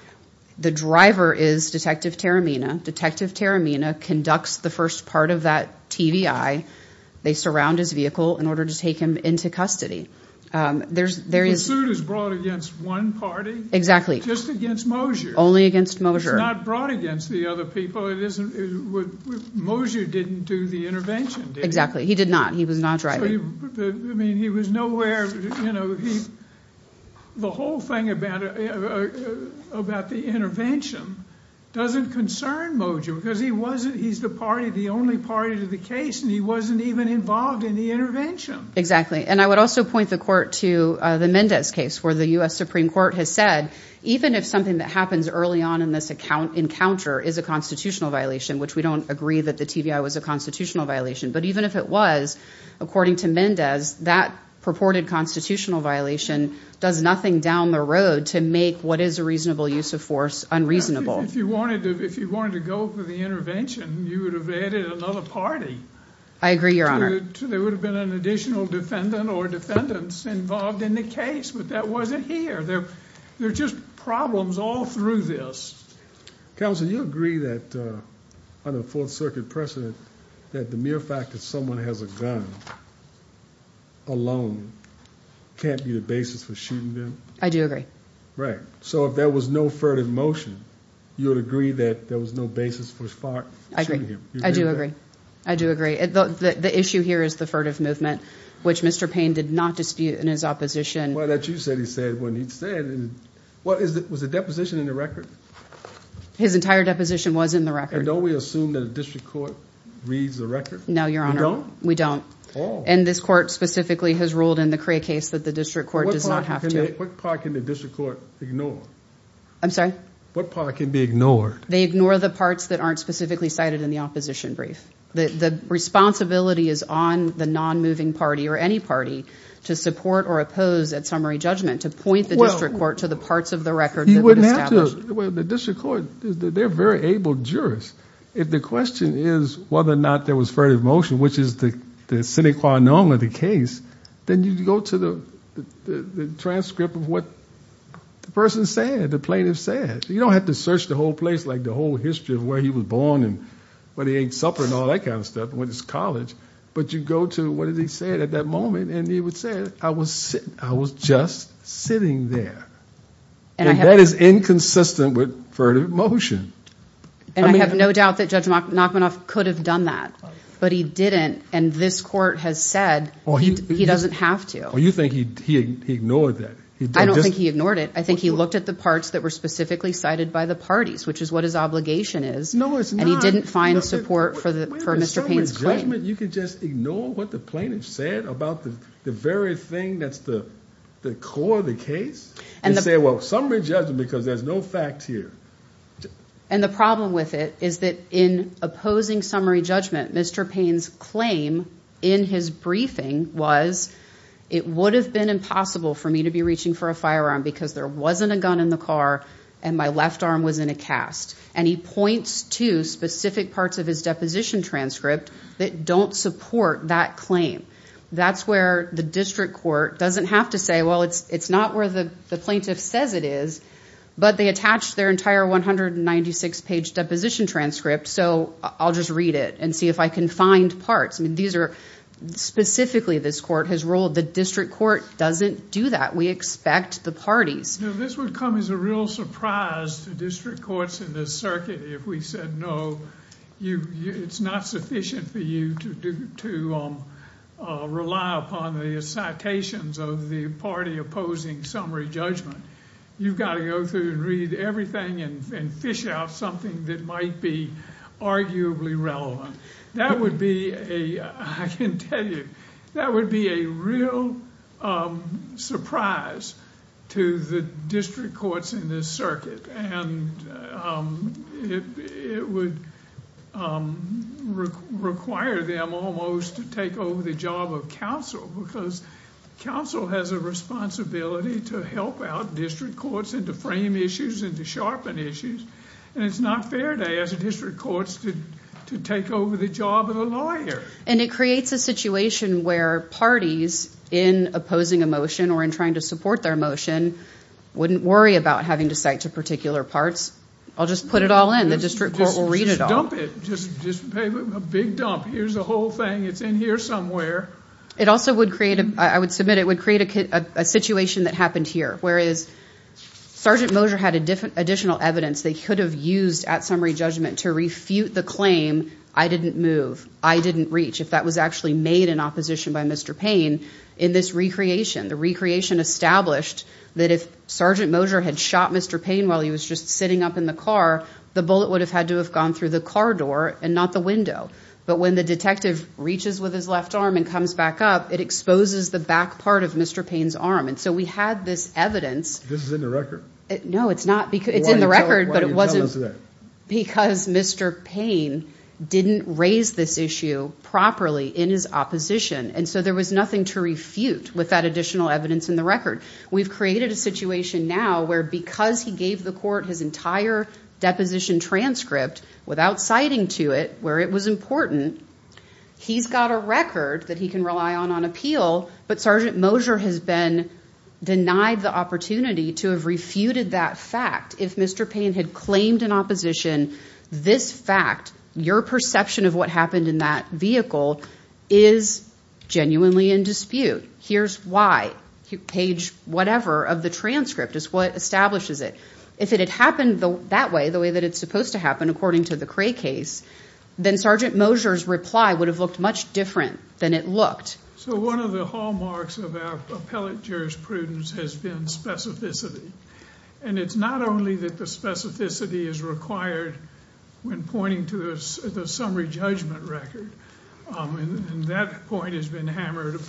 The driver is Detective Taramina. Detective Taramina conducts the first part of that TVI. They surround his vehicle in order to take him into custody. The suit is brought against one party? Exactly. Just against Moser? Only against Moser. It's not brought against the other people. Moser didn't do the intervention, did he? Exactly. He did not. He was not driving. He was nowhere. The whole thing about the intervention doesn't concern Moser, because he's the only party to the case, and he wasn't even involved in the intervention. Exactly. I would also point the court to the Mendez case, where the U.S. Supreme Court has said, even if something that happens early on in this encounter is a constitutional violation, which we don't agree that the TVI was a constitutional violation, but even if it was, according to Mendez, that purported constitutional violation does nothing down the road to make what is a reasonable use of force unreasonable. If you wanted to go for the intervention, you would have added another party. I agree, Your Honor. There would have been an additional defendant or defendants involved in the case, but that wasn't here. There are just problems all through this. Counsel, do you agree that, under the Fourth Circuit precedent, that the mere fact that someone has a gun alone can't be the basis for shooting them? I do agree. Right. So if there was no furtive motion, you would agree that there was no basis for shooting him? I do agree. I do agree. The issue here is the furtive movement, which Mr. Payne did not dispute in his opposition. Was the deposition in the record? His entire deposition was in the record. And don't we assume that a district court reads the record? No, Your Honor. We don't? We don't. Oh. And this court specifically has ruled in the Cray case that the district court does not have to. What part can the district court ignore? I'm sorry? What part can be ignored? They ignore the parts that aren't specifically cited in the opposition brief. The responsibility is on the non-moving party or any party to support or oppose that summary judgment, to point the district court to the parts of the record that would establish. He wouldn't have to. The district court, they're very able jurists. If the question is whether or not there was furtive motion, which is the sine qua non of the case, then you go to the transcript of what the person said, the plaintiff said. You don't have to search the whole place, like the whole history of where he was born and what he ate supper and all that kind of stuff and went to college. But you go to what he said at that moment, and he would say, I was just sitting there. And that is inconsistent with furtive motion. And I have no doubt that Judge Nachmanoff could have done that. But he didn't. And this court has said he doesn't have to. You think he ignored that? I don't think he ignored it. I think he looked at the parts that were specifically cited by the parties, which is what his obligation is. No, it's not. And he didn't find support for Mr. Payne's claim. You can just ignore what the plaintiff said about the very thing that's the core of the case and say, well, summary judgment, because there's no facts here. And the problem with it is that in opposing summary judgment, Mr. Payne's claim in his briefing was it would have been impossible for me to be reaching for a firearm because there wasn't a gun in the car and my left arm was in a cast. And he points to specific parts of his deposition transcript that don't support that claim. That's where the district court doesn't have to say, well, it's not where the plaintiff says it is, but they attach their entire 196-page deposition transcript, so I'll just read it and see if I can find parts. Specifically, this court has ruled the district court doesn't do that. We expect the parties. This would come as a real surprise to district courts in this circuit if we said, no, it's not sufficient for you to rely upon the citations of the party opposing summary judgment. You've got to go through and read everything and fish out something that might be arguably relevant. That would be, I can tell you, that would be a real surprise to the district courts in this circuit. And it would require them almost to take over the job of counsel because counsel has a responsibility to help out district courts and to frame issues and to sharpen issues. And it's not fair to us at district courts to take over the job of the lawyer. And it creates a situation where parties, in opposing a motion or in trying to support their motion, wouldn't worry about having to cite to particular parts. I'll just put it all in. The district court will read it all. Just dump it. Just a big dump. Here's the whole thing. It's in here somewhere. It also would create, I would submit, it would create a situation that happened here, whereas Sergeant Moser had additional evidence they could have used at summary judgment to refute the claim, I didn't move, I didn't reach, if that was actually made in opposition by Mr. Payne, in this recreation. The recreation established that if Sergeant Moser had shot Mr. Payne while he was just sitting up in the car, the bullet would have had to have gone through the car door and not the window. But when the detective reaches with his left arm and comes back up, it exposes the back part of Mr. Payne's arm. And so we had this evidence. This is in the record? No, it's not. It's in the record, but it wasn't because Mr. Payne didn't raise this issue properly in his opposition. And so there was nothing to refute with that additional evidence in the record. We've created a situation now where because he gave the court his entire deposition transcript without citing to it, where it was important, he's got a record that he can rely on on appeal, but Sergeant Moser has been denied the opportunity to have refuted that fact. If Mr. Payne had claimed in opposition this fact, your perception of what happened in that vehicle is genuinely in dispute. Here's why, page whatever of the transcript is what establishes it. If it had happened that way, the way that it's supposed to happen, according to the Cray case, then Sergeant Moser's reply would have looked much different than it looked. So one of the hallmarks of our appellate jurisprudence has been specificity. And it's not only that the specificity is required when pointing to the summary judgment record, and that point has been hammered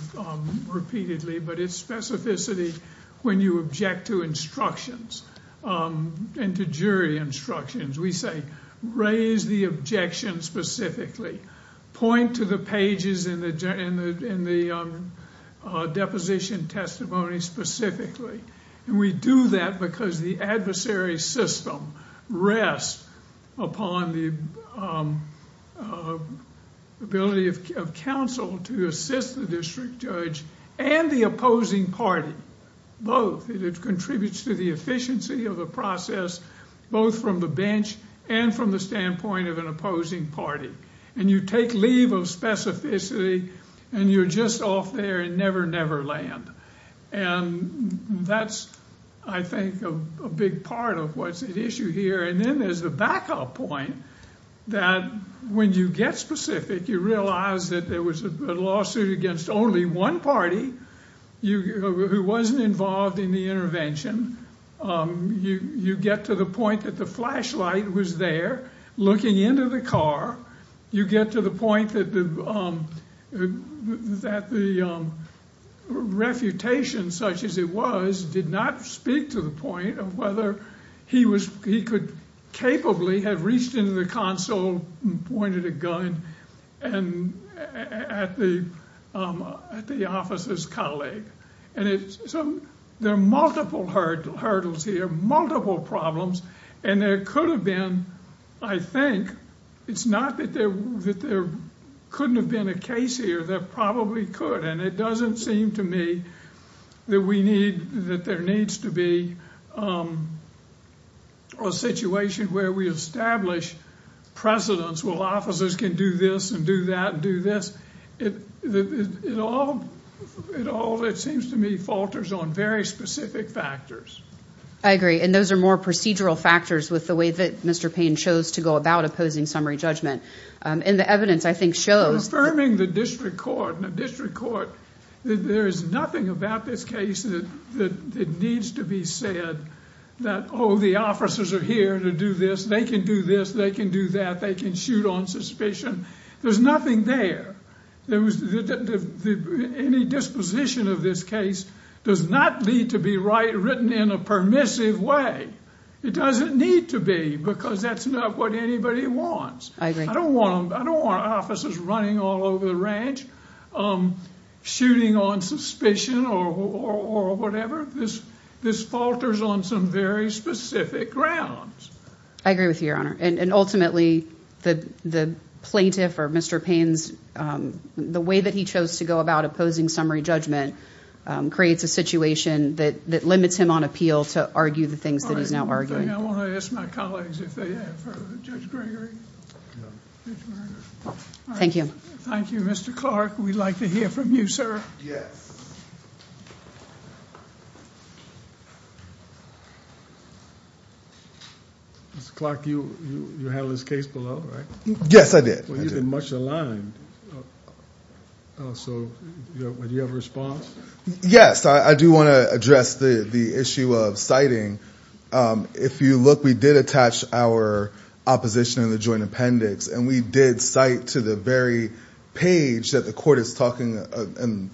repeatedly, but it's specificity when you object to instructions and to jury instructions. We say raise the objection specifically, point to the pages in the deposition testimony specifically. And we do that because the adversary system rests upon the ability of counsel to assist the district judge and the opposing party. Both. It contributes to the efficiency of the process, both from the bench and from the standpoint of an opposing party. And you take leave of specificity and you're just off there and never, never land. And that's, I think, a big part of what's at issue here. And then there's the backup point that when you get specific, you realize that there was a lawsuit against only one party, who wasn't involved in the intervention. You get to the point that the flashlight was there looking into the car. You get to the point that the refutation, such as it was, did not speak to the point of whether he was, he could capably have reached into the console and pointed a gun at the officer's colleague. And there are multiple hurdles here, multiple problems, and there could have been, I think, it's not that there couldn't have been a case here, there probably could. And it doesn't seem to me that we need, that there needs to be a situation where we establish precedents. Well, officers can do this and do that and do this. It all, it seems to me, falters on very specific factors. I agree. And those are more procedural factors with the way that Mr. Payne chose to go about opposing summary judgment. And the evidence, I think, shows that. Affirming the district court, there is nothing about this case that needs to be said that, oh, the officers are here to do this, they can do this, they can do that, they can shoot on suspicion. There's nothing there. Any disposition of this case does not need to be written in a permissive way. It doesn't need to be, because that's not what anybody wants. I agree. I don't want officers running all over the ranch, shooting on suspicion or whatever. This falters on some very specific grounds. I agree with you, Your Honor. And ultimately, the plaintiff or Mr. Payne's, the way that he chose to go about opposing summary judgment creates a situation that limits him on appeal to argue the things that he's now arguing. I want to ask my colleagues if they have further, Judge Gregory. Thank you. Thank you, Mr. Clark. We'd like to hear from you, sir. Yes. Mr. Clark, you handled this case below, right? Yes, I did. Well, you've been much aligned. So do you have a response? Yes. I do want to address the issue of citing. If you look, we did attach our opposition in the joint appendix, and we did cite to the very page that the court is talking and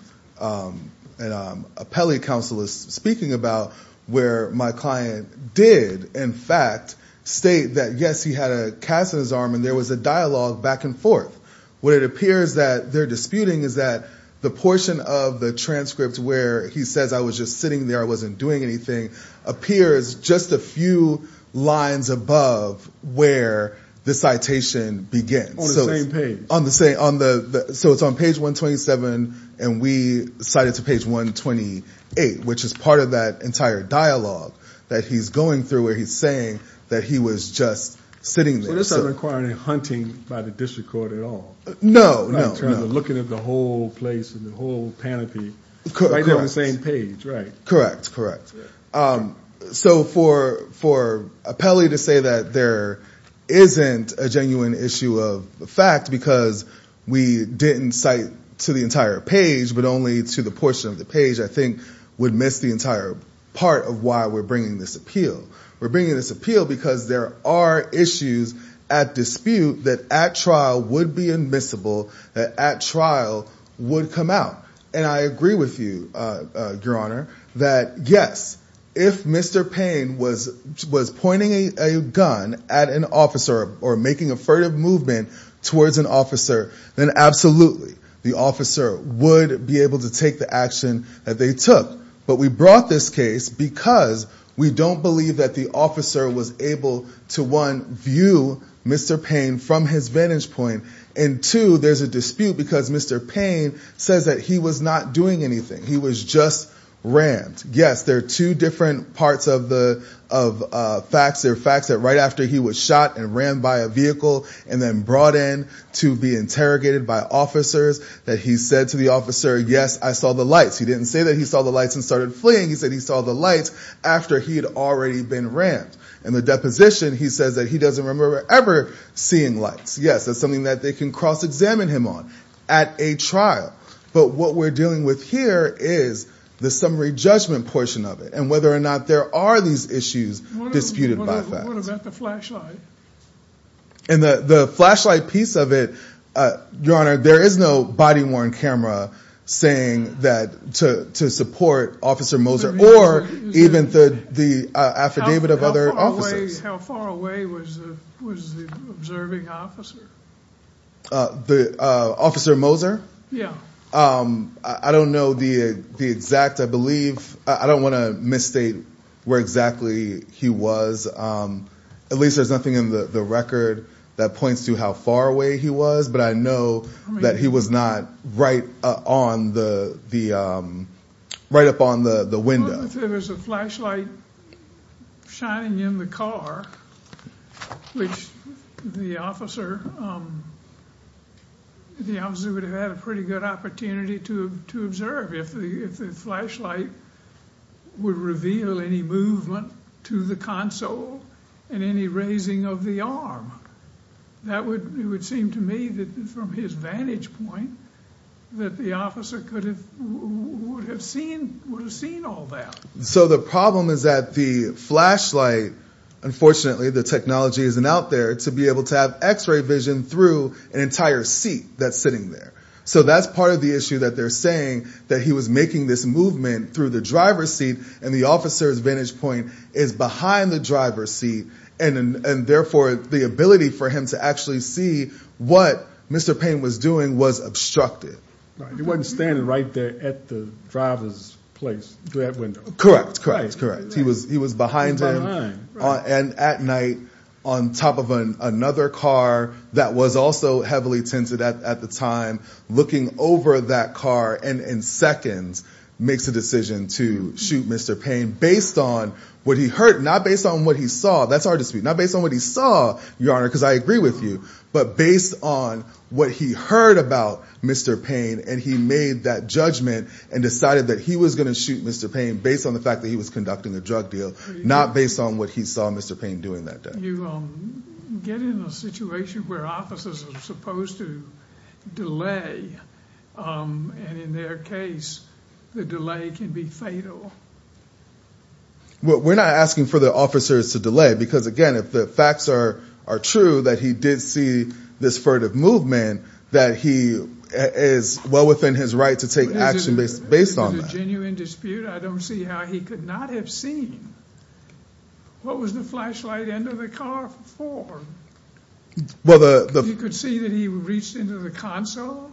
an appellate counsel is speaking about, where my client did, in fact, state that, yes, he had a cast on his arm, and there was a dialogue back and forth. What it appears that they're disputing is that the portion of the transcript where he says, I was just sitting there, I wasn't doing anything, appears just a few lines above where the citation begins. On the same page. So it's on page 127, and we cite it to page 128, which is part of that entire dialogue that he's going through where he's saying that he was just sitting there. Well, this doesn't require any hunting by the district court at all. No, no, no. Looking at the whole place and the whole panoply right there on the same page, right? Correct, correct. So for an appellee to say that there isn't a genuine issue of fact because we didn't cite to the entire page but only to the portion of the page I think would miss the entire part of why we're bringing this appeal. We're bringing this appeal because there are issues at dispute that at trial would be admissible, that at trial would come out. And I agree with you, Your Honor, that yes, if Mr. Payne was pointing a gun at an officer or making a furtive movement towards an officer, then absolutely the officer would be able to take the action that they took. But we brought this case because we don't believe that the officer was able to, one, view Mr. Payne from his vantage point and, two, there's a dispute because Mr. Payne says that he was not doing anything. He was just rammed. Yes, there are two different parts of facts. There are facts that right after he was shot and rammed by a vehicle and then brought in to be interrogated by officers, that he said to the officer, yes, I saw the lights. He didn't say that he saw the lights and started fleeing. He said he saw the lights after he had already been rammed. In the deposition, he says that he doesn't remember ever seeing lights. Yes, that's something that they can cross-examine him on at a trial. But what we're dealing with here is the summary judgment portion of it and whether or not there are these issues disputed by facts. What about the flashlight? In the flashlight piece of it, Your Honor, there is no body-worn camera saying that to support Officer Moser or even the affidavit of other officers. How far away was the observing officer? The Officer Moser? Yes. I don't know the exact, I believe. I don't want to misstate where exactly he was. At least there's nothing in the record that points to how far away he was, but I know that he was not right up on the window. If there was a flashlight shining in the car, which the officer would have had a pretty good opportunity to observe. If the flashlight would reveal any movement to the console and any raising of the arm, it would seem to me that from his vantage point that the officer would have seen all that. So the problem is that the flashlight, unfortunately the technology isn't out there, to be able to have x-ray vision through an entire seat that's sitting there. So that's part of the issue that they're saying, that he was making this movement through the driver's seat and the officer's vantage point is behind the driver's seat, and therefore the ability for him to actually see what Mr. Payne was doing was obstructed. He wasn't standing right there at the driver's place through that window. Correct, correct, correct. He was behind him and at night on top of another car that was also heavily tinted at the time. Looking over that car and in seconds makes a decision to shoot Mr. Payne based on what he heard, not based on what he saw. That's hard to speak. Not based on what he saw, Your Honor, because I agree with you, but based on what he heard about Mr. Payne and he made that judgment and decided that he was going to shoot Mr. Payne based on the fact that he was conducting a drug deal, not based on what he saw Mr. Payne doing that day. You get in a situation where officers are supposed to delay, and in their case the delay can be fatal. We're not asking for the officers to delay because, again, if the facts are true that he did see this furtive movement, that he is well within his right to take action based on that. Is it a genuine dispute? I don't see how he could not have seen. What was the flashlight end of the car for? He could see that he reached into the console?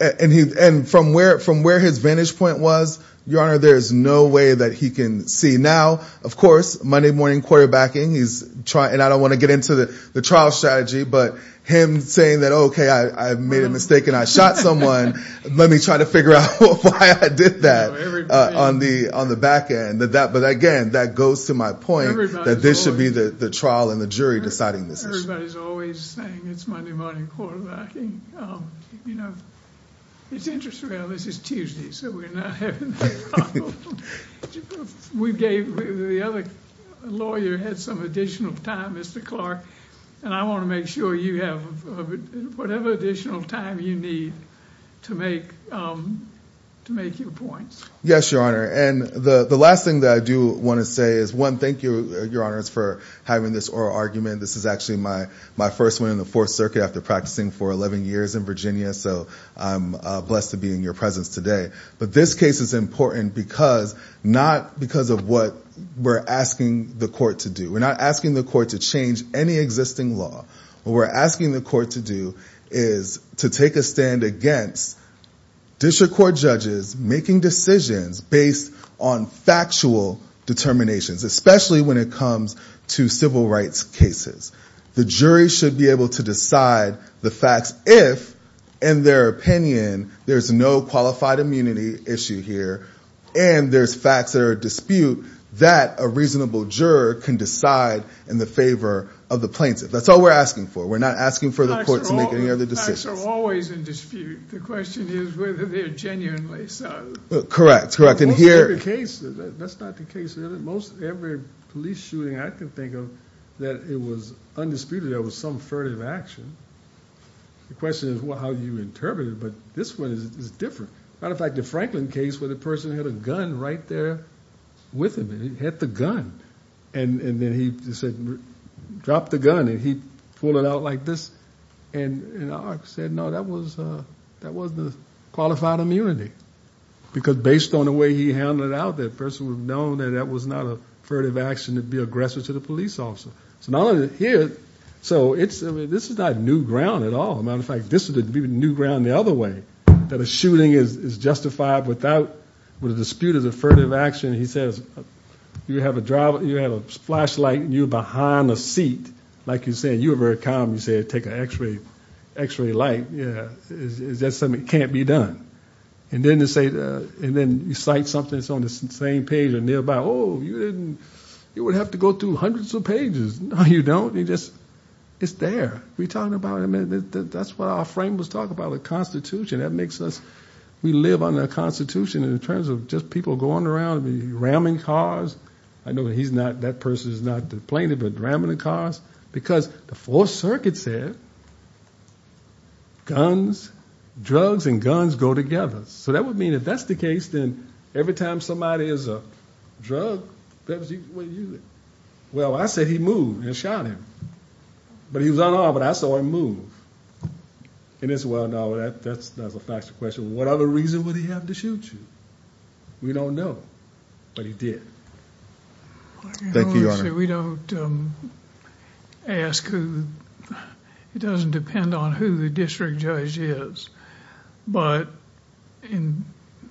And from where his vantage point was, Your Honor, there is no way that he can see. Now, of course, Monday morning quarterbacking, and I don't want to get into the trial strategy, but him saying that, okay, I made a mistake and I shot someone, let me try to figure out why I did that on the back end. But, again, that goes to my point that this should be the trial and the jury deciding this issue. Everybody's always saying it's Monday morning quarterbacking. It's interesting how this is Tuesday, so we're not having that problem. The other lawyer had some additional time, Mr. Clark, and I want to make sure you have whatever additional time you need to make your points. Yes, Your Honor. And the last thing that I do want to say is, one, thank you, Your Honors, for having this oral argument. This is actually my first one in the Fourth Circuit after practicing for 11 years in Virginia, so I'm blessed to be in your presence today. But this case is important not because of what we're asking the court to do. We're not asking the court to change any existing law. What we're asking the court to do is to take a stand against district court judges making decisions based on factual determinations, especially when it comes to civil rights cases. The jury should be able to decide the facts if, in their opinion, there's no qualified immunity issue here and there's facts that are at dispute that a reasonable juror can decide in the favor of the plaintiff. That's all we're asking for. We're not asking for the court to make any other decisions. Facts are always in dispute. The question is whether they're genuinely so. Correct, correct. Most of the cases, that's not the case. Most every police shooting I can think of that it was undisputed there was some furtive action. The question is how you interpret it, but this one is different. As a matter of fact, the Franklin case where the person had a gun right there with him and he hit the gun and then he said, drop the gun, and he pulled it out like this and said, no, that wasn't a qualified immunity because based on the way he handled it out there, the person would have known that that was not a furtive action to be aggressive to the police officer. So this is not new ground at all. As a matter of fact, this would be new ground the other way, that a shooting is justified without a dispute as a furtive action. He says, you have a flashlight and you're behind a seat. Like you said, you were very calm. You said, take an x-ray light. Is that something that can't be done? And then you cite something that's on the same page or nearby. Oh, you would have to go through hundreds of pages. No, you don't. It's there. We talked about it. That's what our frame was talking about, the Constitution. We live under the Constitution in terms of just people going around and ramming cars. I know he's not, that person is not the plaintiff, but ramming the cars, because the Fourth Circuit said guns, drugs, and guns go together. So that would mean if that's the case, then every time somebody is a drug, well, I said he moved and shot him. But he was unarmed, but I saw him move. And as well, now that's a faster question. What other reason would he have to shoot you? We don't know, but he did. Thank you, Your Honor. We don't ask who... It doesn't depend on who the district judge is, but in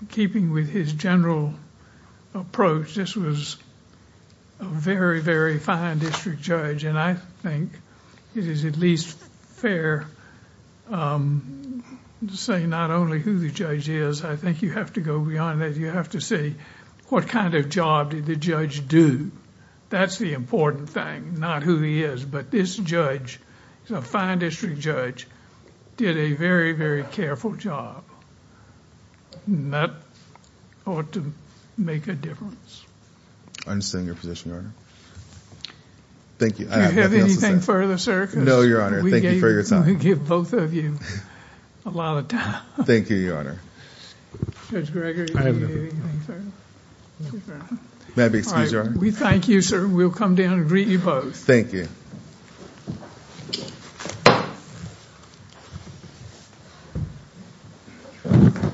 keeping with his general approach, this was a very, very fine district judge. And I think it is at least fair to say not only who the judge is, I think you have to go beyond that. You have to say what kind of job did the judge do? That's the important thing, not who he is. But this judge, he's a fine district judge, did a very, very careful job. That ought to make a difference. I understand your position, Your Honor. Thank you. Do you have anything further, sir? No, Your Honor. Thank you for your time. We gave both of you a lot of time. Thank you, Your Honor. Judge Gregory, do you have anything further? May I be excused, Your Honor? We thank you, sir. We'll come down and greet you both. Thank you.